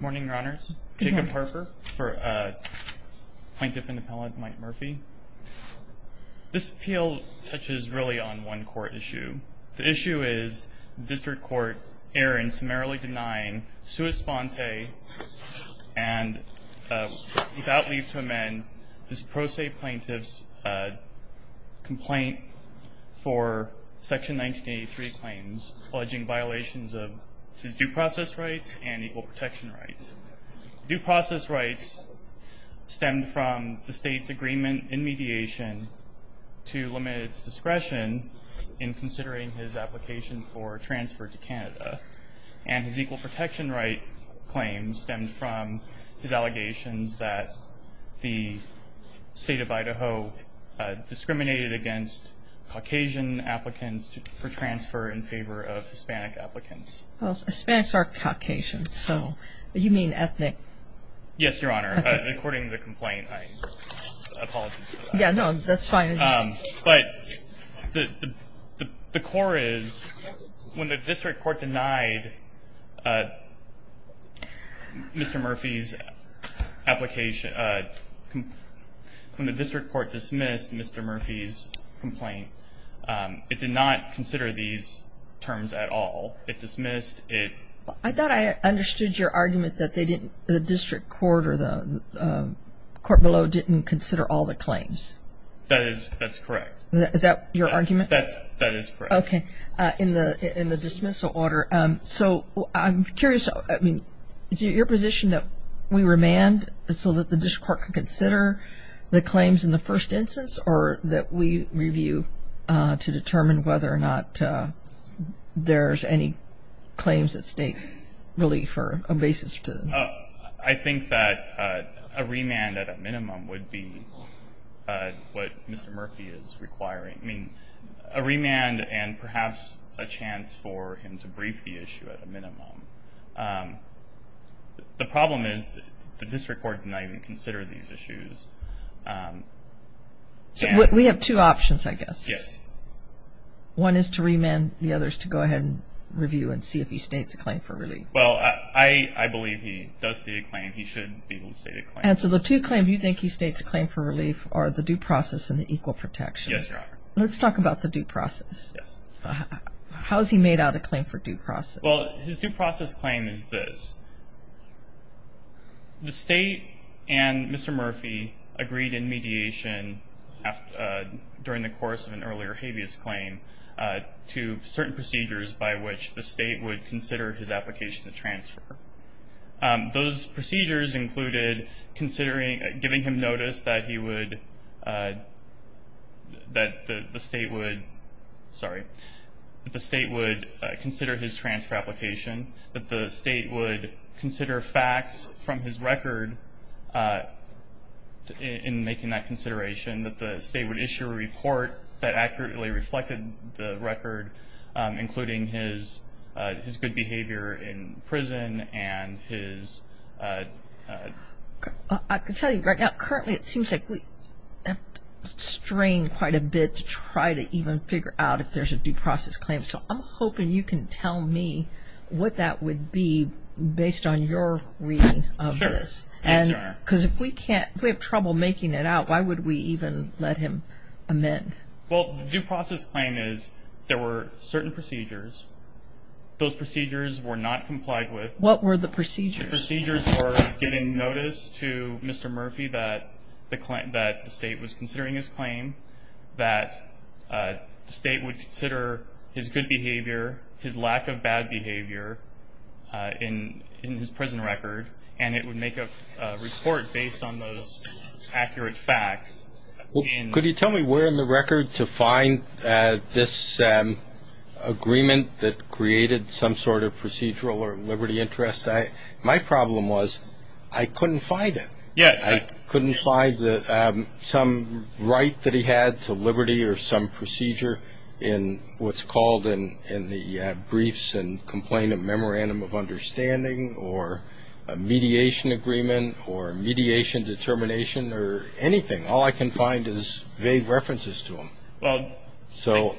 Morning, Your Honors. Jacob Harper for Plaintiff and Appellant Mike Murphy. This appeal touches really on one court issue. The issue is the District Court error in summarily denying Sue Esponte and without leave to amend this pro se plaintiff's complaint for Section 1983 claims alleging violations of his due process rights, and equal protection rights. Due process rights stemmed from the state's agreement in mediation to limit its discretion in considering his application for transfer to Canada. And his equal protection right claims stemmed from his allegations that the state of Idaho discriminated against Caucasian applicants for transfer in favor of Hispanic applicants. Well, Hispanics are Caucasians, so you mean ethnic. Yes, Your Honor. According to the complaint, I apologize. Yeah, no, that's fine. But the core is when the District Court denied Mr. Murphy's application, when the District Court dismissed Mr. Murphy's complaint, it did not consider these terms at all. It dismissed it. I thought I understood your argument that the District Court or the court below didn't consider all the claims. That is, that's correct. Is that your argument? That is correct. Okay. In the dismissal order. So I'm curious, I mean, is it your position that we remand so that the District Court can consider the claims in the first instance or that we review to determine whether or not there's any claims that state relief or a basis to them? I think that a remand at a minimum would be what Mr. Murphy is requiring. I mean, a remand and perhaps a chance for him to brief the issue at a minimum. The problem is the District Court did not even consider these issues. We have two options, I guess. Yes. One is to remand, the other is to go ahead and review and see if he states a claim for relief. Well, I believe he does state a claim. He should be able to state a claim. And so the two claims you think he states a claim for relief are the due process and the equal protection. Yes, Your Honor. Let's talk about the due process. Yes. How is he made out a claim for due process? Well, his due process claim is this. The State and Mr. Murphy agreed in mediation during the course of an earlier habeas claim to certain procedures by which the State would consider his application to transfer. Those procedures included giving him notice that the State would consider his transfer application, that the State would consider facts from his record in making that consideration, that the State would issue a report that accurately reflected the record, including his good behavior in prison and his... I can tell you, Greg, currently it seems like we have to strain quite a bit to try to even figure out if there's a due process claim. So I'm hoping you can tell me what that would be based on your reading of this. Sure. Because if we have trouble making it out, why would we even let him amend? Well, the due process claim is there were certain procedures. Those procedures were not complied with. What were the procedures? The procedures were giving notice to Mr. Murphy that the State was considering his claim, that the State would consider his good behavior, his lack of bad behavior in his prison record, and it would make a report based on those accurate facts. Could you tell me where in the record to find this agreement that created some sort of procedural or liberty interest? My problem was I couldn't find it. Yes. I couldn't find some right that he had to liberty or some procedure in what's called in the briefs and complainant memorandum of understanding or a mediation agreement or mediation determination or anything. All I can find is vague references to him. Well,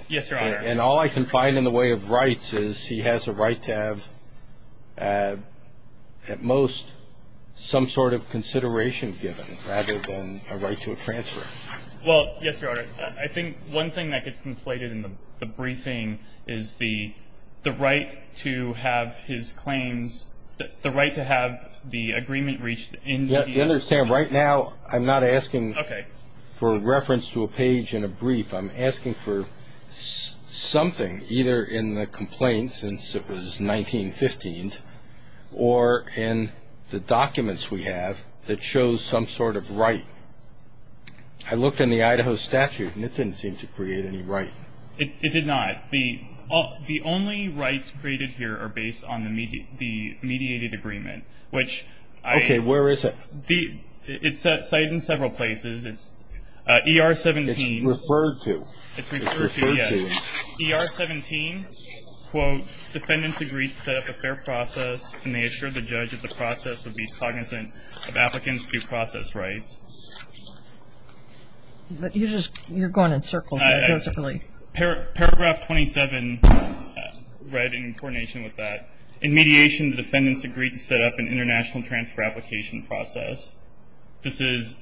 yes, Your Honor. And all I can find in the way of rights is he has a right to have, at most, some sort of consideration given rather than a right to a transfer. Well, yes, Your Honor. I think one thing that gets conflated in the briefing is the right to have his claims, the right to have the agreement reached in the evidence. Right now I'm not asking for reference to a page in a brief. I'm asking for something either in the complaint since it was 1915 or in the documents we have that shows some sort of right. I looked in the Idaho statute, and it didn't seem to create any right. It did not. The only rights created here are based on the mediated agreement, which I – Okay. Where is it? It's cited in several places. ER-17. It's referred to. It's referred to, yes. ER-17, quote, defendants agreed to set up a fair process, and they assured the judge that the process would be cognizant of applicants' due process rights. You're going in circles. Paragraph 27, read in coordination with that. In mediation, the defendants agreed to set up an international transfer application process. This is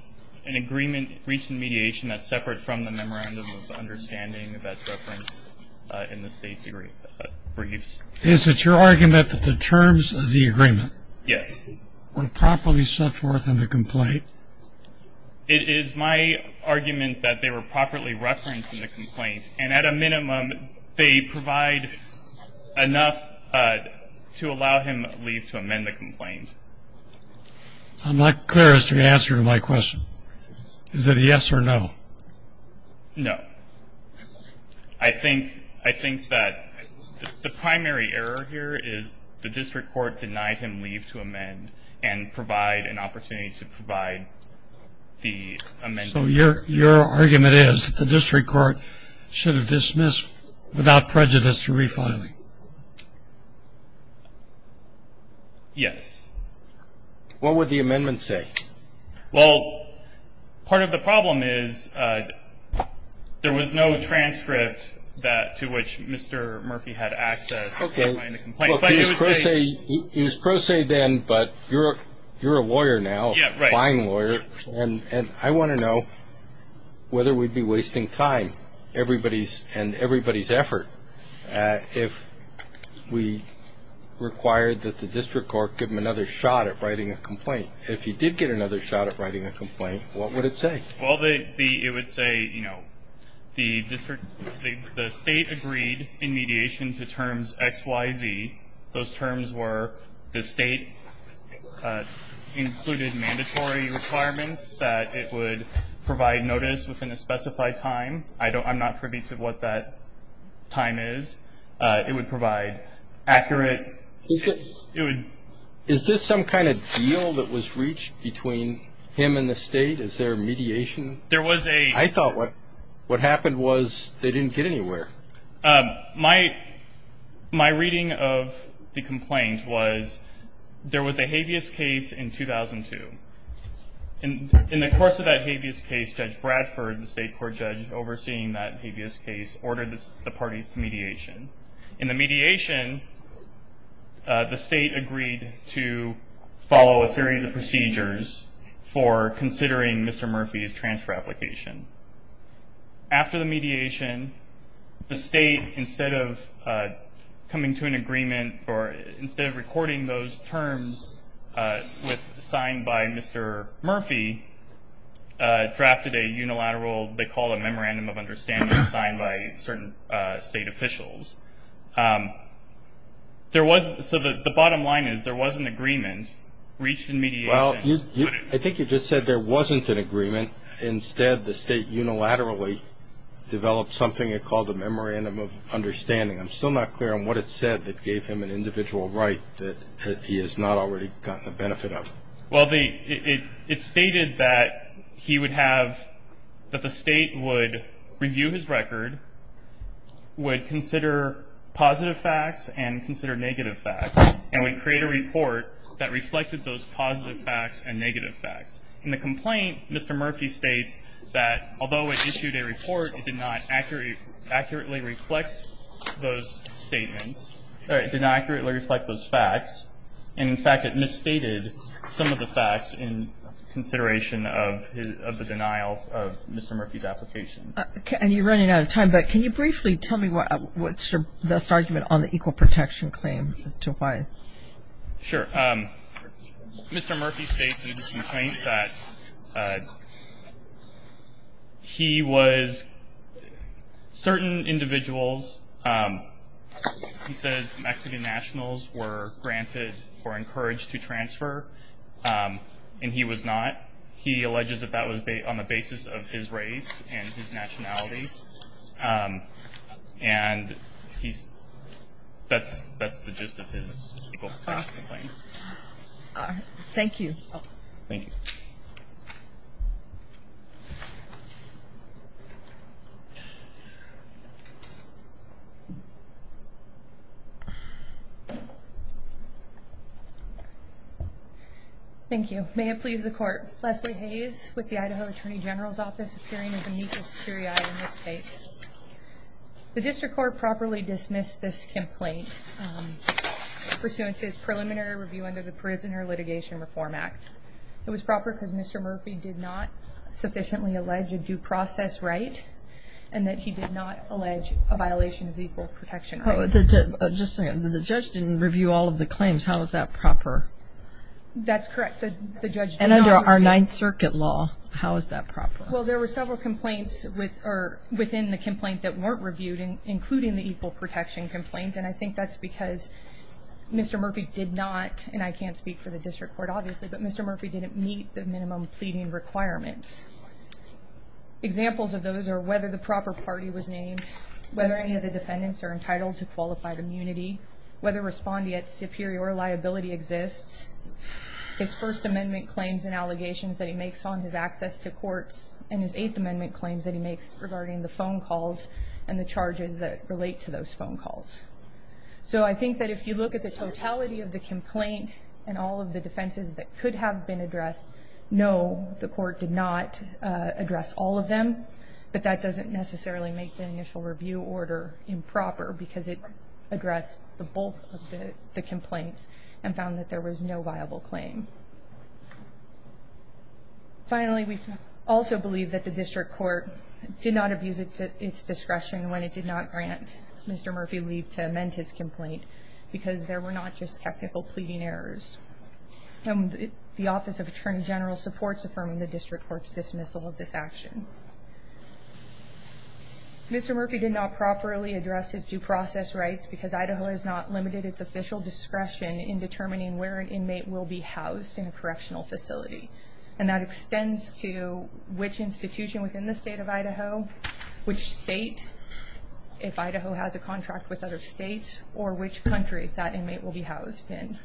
an agreement reached in mediation that's separate from the memorandum of understanding that's referenced in the state's briefs. Is it your argument that the terms of the agreement were properly set forth in the complaint? It is my argument that they were properly referenced in the complaint, and at a minimum they provide enough to allow him leave to amend the complaint. I'm not clear as to the answer to my question. Is it a yes or no? No. I think that the primary error here is the district court denied him leave to amend and provide an opportunity to provide the amendment. So your argument is that the district court should have dismissed without prejudice the refiling? Yes. What would the amendment say? Well, part of the problem is there was no transcript to which Mr. Murphy had access to the complaint. Okay. It was pro se then, but you're a lawyer now, a fine lawyer, and I want to know whether we'd be wasting time, everybody's, and everybody's effort, if we required that the district court give him another shot at writing a complaint. If he did get another shot at writing a complaint, what would it say? Well, it would say, you know, the district, the state agreed in mediation to terms XYZ. Those terms were the state included mandatory requirements that it would provide notice within a specified time. I'm not privy to what that time is. It would provide accurate. Is this some kind of deal that was reached between him and the state? Is there mediation? There was a. I thought what happened was they didn't get anywhere. My reading of the complaint was there was a habeas case in 2002. In the course of that habeas case, Judge Bradford, the state court judge overseeing that habeas case, ordered the parties to mediation. In the mediation, the state agreed to follow a series of procedures for considering Mr. Murphy's transfer application. After the mediation, the state, instead of coming to an agreement or instead of recording those terms signed by Mr. Murphy, drafted a unilateral they call a memorandum of understanding signed by certain state officials. So the bottom line is there was an agreement reached in mediation. Well, I think you just said there wasn't an agreement. Instead, the state unilaterally developed something they called a memorandum of understanding. I'm still not clear on what it said that gave him an individual right that he has not already gotten the benefit of. Well, it stated that he would have, that the state would review his record, would consider positive facts and consider negative facts, and would create a report that reflected those positive facts and negative facts. In the complaint, Mr. Murphy states that although it issued a report, it did not accurately reflect those statements, or it did not accurately reflect those facts. And, in fact, it misstated some of the facts in consideration of the denial of Mr. Murphy's application. And you're running out of time, but can you briefly tell me what's your best argument on the equal protection claim as to why? Sure. Mr. Murphy states in his complaint that he was, certain individuals, he says Mexican nationals were granted or encouraged to transfer, and he was not. He alleges that that was on the basis of his race and his nationality. And that's the gist of his equal protection claim. Thank you. Thank you. Thank you. May it please the Court. Leslie Hayes with the Idaho Attorney General's Office, appearing as amicus curiae in this case. The district court properly dismissed this complaint, pursuant to its preliminary review under the Prisoner Litigation Reform Act. It was proper because Mr. Murphy did not sufficiently allege a due process right, and that he did not allege a violation of equal protection rights. Just a second. The judge didn't review all of the claims. How is that proper? That's correct. And under our Ninth Circuit law, how is that proper? Well, there were several complaints within the complaint that weren't reviewed, including the equal protection complaint, and I think that's because Mr. Murphy did not, and I can't speak for the district court obviously, but Mr. Murphy didn't meet the minimum pleading requirements. Examples of those are whether the proper party was named, whether any of the defendants are entitled to qualified immunity, whether respondeat superior liability exists. His First Amendment claims and allegations that he makes on his access to courts and his Eighth Amendment claims that he makes regarding the phone calls and the charges that relate to those phone calls. So I think that if you look at the totality of the complaint and all of the defenses that could have been addressed, no, the court did not address all of them, but that doesn't necessarily make the initial review order improper because it addressed the bulk of the complaints and found that there was no viable claim. Finally, we also believe that the district court did not abuse its discretion when it did not grant Mr. Murphy leave to amend his complaint because there were not just technical pleading errors, and the Office of Attorney General supports affirming the district court's dismissal of this action. Mr. Murphy did not properly address his due process rights because Idaho has not limited its official discretion in determining where an inmate will be housed in a correctional facility, and that extends to which institution within the state of Idaho, which state, if Idaho has a contract with other states, or which country that inmate will be housed in.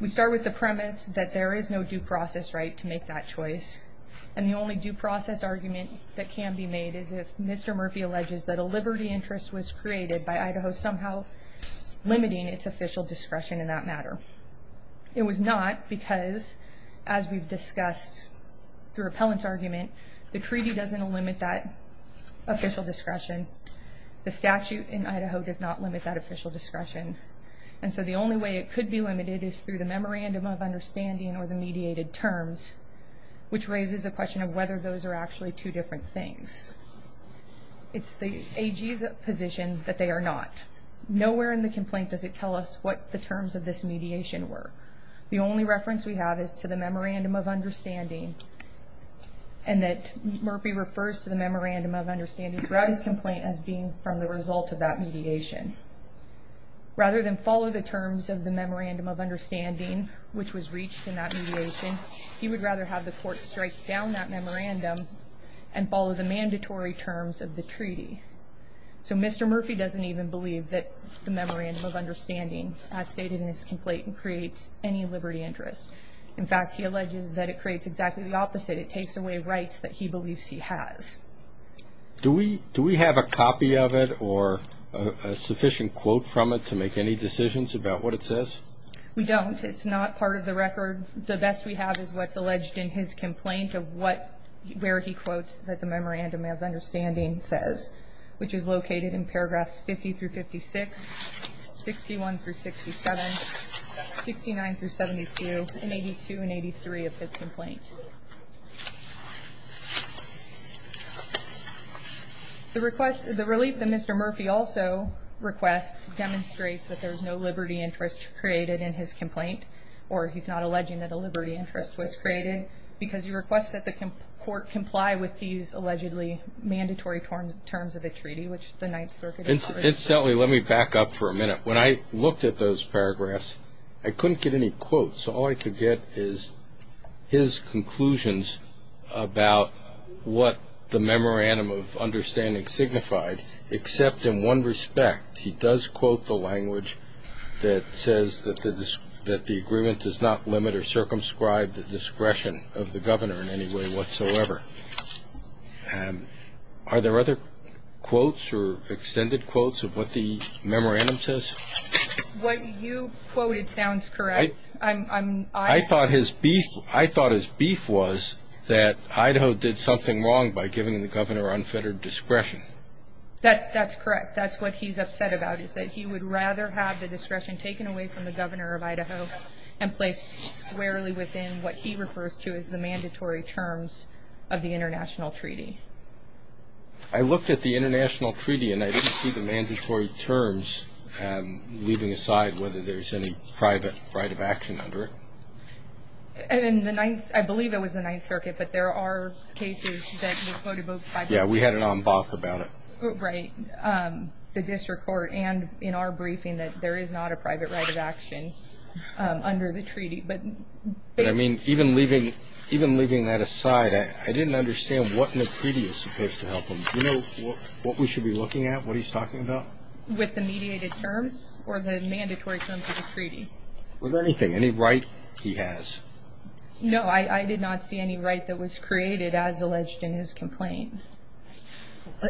We start with the premise that there is no due process right to make that choice, and the only due process argument that can be made is if Mr. Murphy alleges that a liberty interest was created by Idaho somehow limiting its official discretion in that matter. It was not because, as we've discussed through appellant's argument, the treaty doesn't limit that official discretion. The statute in Idaho does not limit that official discretion, and so the only way it could be limited is through the memorandum of understanding or the mediated terms, which raises the question of whether those are actually two different things. It's the AG's position that they are not. Nowhere in the complaint does it tell us what the terms of this mediation were. The only reference we have is to the memorandum of understanding and that Murphy refers to the memorandum of understanding throughout his complaint as being from the result of that mediation. Rather than follow the terms of the memorandum of understanding, which was reached in that mediation, he would rather have the court strike down that memorandum and follow the mandatory terms of the treaty. So Mr. Murphy doesn't even believe that the memorandum of understanding as stated in his complaint creates any liberty interest. In fact, he alleges that it creates exactly the opposite. It takes away rights that he believes he has. Do we have a copy of it or a sufficient quote from it to make any decisions about what it says? We don't. It's not part of the record. The best we have is what's alleged in his complaint of where he quotes that the memorandum of understanding says, which is located in paragraphs 50 through 56, 61 through 67, 69 through 72, and 82 and 83 of his complaint. The relief that Mr. Murphy also requests demonstrates that there's no liberty interest created in his complaint, or he's not alleging that a liberty interest was created, because he requests that the court comply with these allegedly mandatory terms of the treaty, which the Ninth Circuit is not. Incidentally, let me back up for a minute. When I looked at those paragraphs, I couldn't get any quotes. All I could get is his conclusions about what the memorandum of understanding signified, except in one respect. He does quote the language that says that the agreement does not limit or circumscribe the discretion of the governor in any way whatsoever. Are there other quotes or extended quotes of what the memorandum says? What you quoted sounds correct. I thought his beef was that Idaho did something wrong by giving the governor unfettered discretion. That's correct. That's what he's upset about, is that he would rather have the discretion taken away from the governor of Idaho and placed squarely within what he refers to as the mandatory terms of the international treaty. I looked at the international treaty, and I didn't see the mandatory terms leaving aside whether there's any private right of action under it. I believe it was the Ninth Circuit, but there are cases that were quoted both by Yeah, we had it on BOC about it. Right. The district court and in our briefing that there is not a private right of action under the treaty. But I mean, even leaving that aside, I didn't understand what the treaty is supposed to help him. Do you know what we should be looking at, what he's talking about? With the mediated terms or the mandatory terms of the treaty. With anything. Any right he has. No, I did not see any right that was created as alleged in his complaint.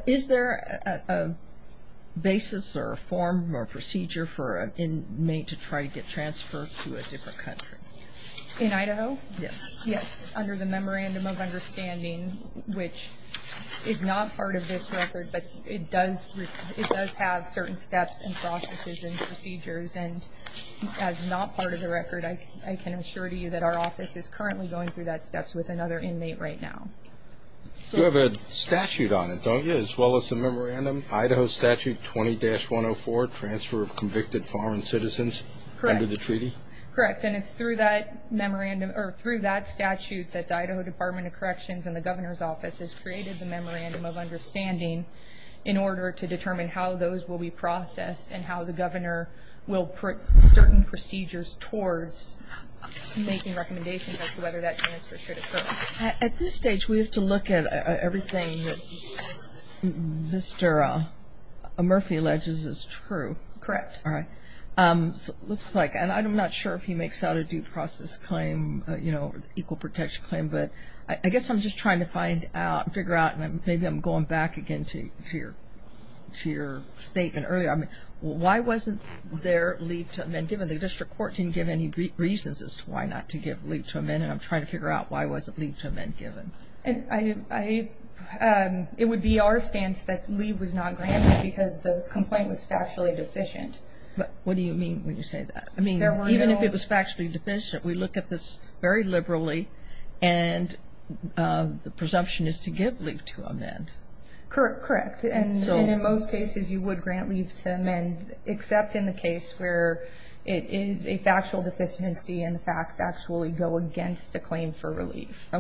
Is there a basis or a form or procedure for an inmate to try to get transferred to a different country? In Idaho? Yes. Yes, under the Memorandum of Understanding, which is not part of this record, but it does have certain steps and processes and procedures. And as not part of the record, I can assure you that our office is currently going through that steps with another inmate right now. You have a statute on it, don't you, as well as a memorandum? Idaho Statute 20-104, Transfer of Convicted Foreign Citizens under the treaty? Correct. And it's through that statute that the Idaho Department of Corrections and the governor's office has created the Memorandum of Understanding in order to determine how those will be processed and how the governor will put certain procedures towards making recommendations as to whether that transfer should occur. At this stage, we have to look at everything that Mr. Murphy alleges is true. Correct. All right. Looks like, and I'm not sure if he makes out a due process claim, you know, equal protection claim, but I guess I'm just trying to find out, figure out, and maybe I'm going back again to your statement earlier. Why wasn't there leave to amend given? The district court didn't give any reasons as to why not to give leave to amend, and I'm trying to figure out why wasn't leave to amend given. It would be our stance that leave was not granted because the complaint was factually deficient. What do you mean when you say that? Even if it was factually deficient, we look at this very liberally, and the presumption is to give leave to amend. Correct, and in most cases you would grant leave to amend, except in the case where it is a factual deficiency and the facts actually go against the claim for relief.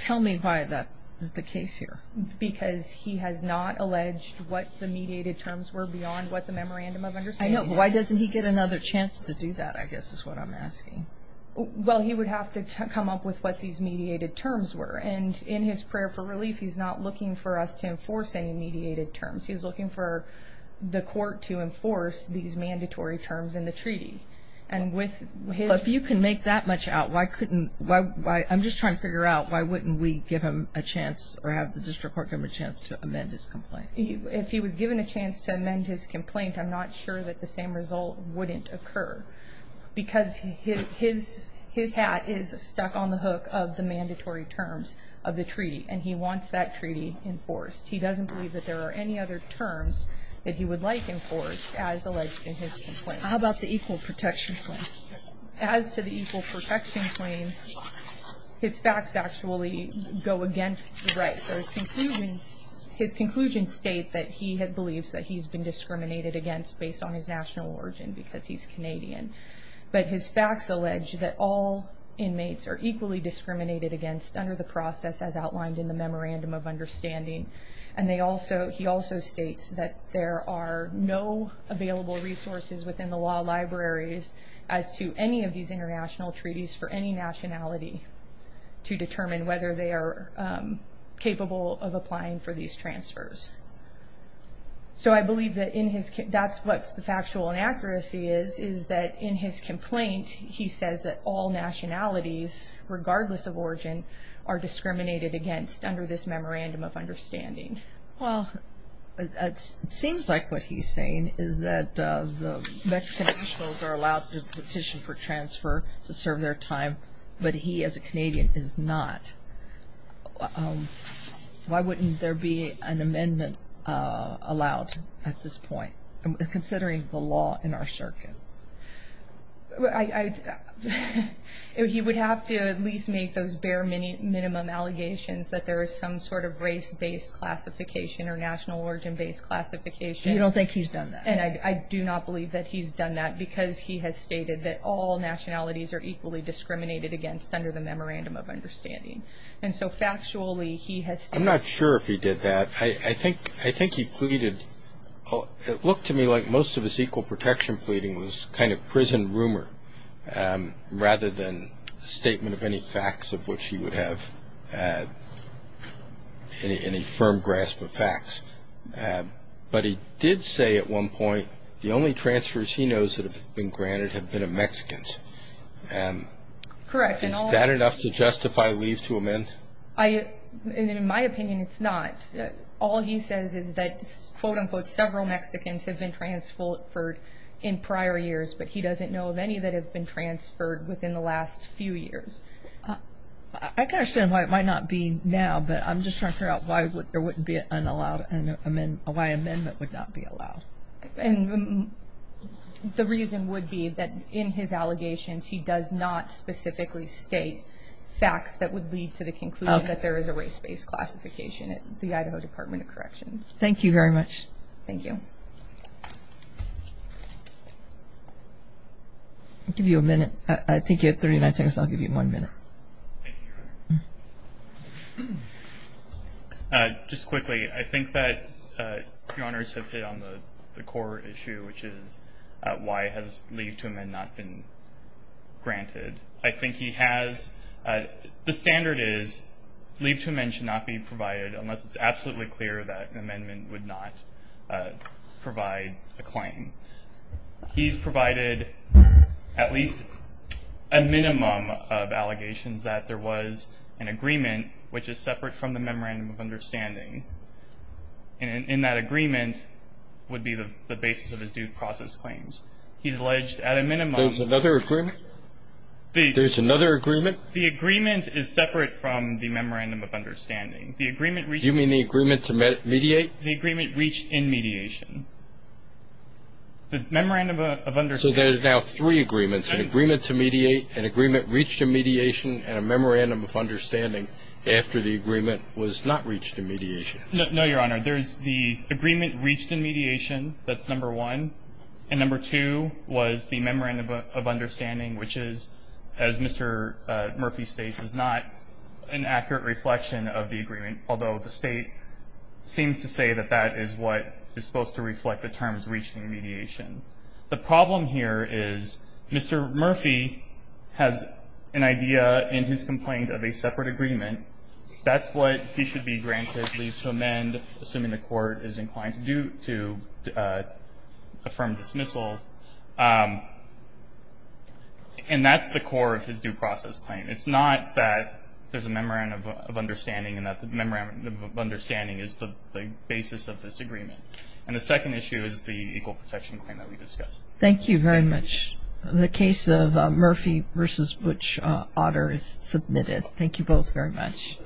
Tell me why that is the case here. Because he has not alleged what the mediated terms were beyond what the memorandum of understanding is. I know, but why doesn't he get another chance to do that, I guess is what I'm asking. Well, he would have to come up with what these mediated terms were, and in his prayer for relief he's not looking for us to enforce any mediated terms. He's looking for the court to enforce these mandatory terms in the treaty. If you can make that much out, I'm just trying to figure out why wouldn't we give him a chance or have the district court give him a chance to amend his complaint? If he was given a chance to amend his complaint, I'm not sure that the same result wouldn't occur because his hat is stuck on the hook of the mandatory terms of the treaty, and he wants that treaty enforced. He doesn't believe that there are any other terms that he would like enforced as alleged in his complaint. How about the equal protection claim? As to the equal protection claim, his facts actually go against the right. So his conclusions state that he believes that he's been discriminated against based on his national origin because he's Canadian. But his facts allege that all inmates are equally discriminated against under the process as outlined in the Memorandum of Understanding, and he also states that there are no available resources within the law libraries as to any of these international treaties for any nationality to determine whether they are capable of applying for these transfers. So I believe that's what the factual inaccuracy is, is that in his complaint he says that all nationalities, regardless of origin, are discriminated against under this Memorandum of Understanding. Well, it seems like what he's saying is that the Mexican nationals are allowed to petition for transfer to serve their time, but he as a Canadian is not. Why wouldn't there be an amendment allowed at this point, considering the law in our circuit? He would have to at least make those bare minimum allegations that there is some sort of race-based classification or national origin-based classification. You don't think he's done that? And I do not believe that he's done that because he has stated that all nationalities are equally discriminated against under the Memorandum of Understanding. And so factually he has stated. I'm not sure if he did that. I think he pleaded. It looked to me like most of his equal protection pleading was kind of prison rumor, rather than a statement of any facts of which he would have any firm grasp of facts. But he did say at one point, the only transfers he knows that have been granted have been of Mexicans. Correct. Is that enough to justify leave to amend? In my opinion, it's not. All he says is that, quote-unquote, several Mexicans have been transferred in prior years, but he doesn't know of any that have been transferred within the last few years. I can understand why it might not be now, but I'm just trying to figure out why there wouldn't be an unallowed, why amendment would not be allowed. And the reason would be that in his allegations, he does not specifically state facts that would lead to the conclusion that there is a race-based classification at the Idaho Department of Corrections. Thank you very much. Thank you. I'll give you a minute. I think you have 39 seconds. I'll give you one minute. Just quickly, I think that Your Honors have hit on the core issue, which is why has leave to amend not been granted. I think he has the standard is leave to amend should not be provided, unless it's absolutely clear that an amendment would not provide a claim. He's provided at least a minimum of allegations that there was an agreement, which is separate from the memorandum of understanding. And in that agreement would be the basis of his due process claims. He's alleged at a minimum. There's another agreement? There's another agreement? The agreement is separate from the memorandum of understanding. Do you mean the agreement to mediate? The agreement reached in mediation. The memorandum of understanding. So there are now three agreements, an agreement to mediate, an agreement reached in mediation, and a memorandum of understanding after the agreement was not reached in mediation. No, Your Honor. There's the agreement reached in mediation. That's number one. And number two was the memorandum of understanding, which is, as Mr. Murphy states, is not an accurate reflection of the agreement, although the State seems to say that that is what is supposed to reflect the terms reached in mediation. The problem here is Mr. Murphy has an idea in his complaint of a separate agreement. That's what he should be granted leave to amend, assuming the Court is inclined to affirm dismissal. And that's the core of his due process claim. It's not that there's a memorandum of understanding and that the memorandum of understanding is the basis of this agreement. And the second issue is the equal protection claim that we discussed. Thank you very much. The case of Murphy v. Butch Otter is submitted. Thank you both very much.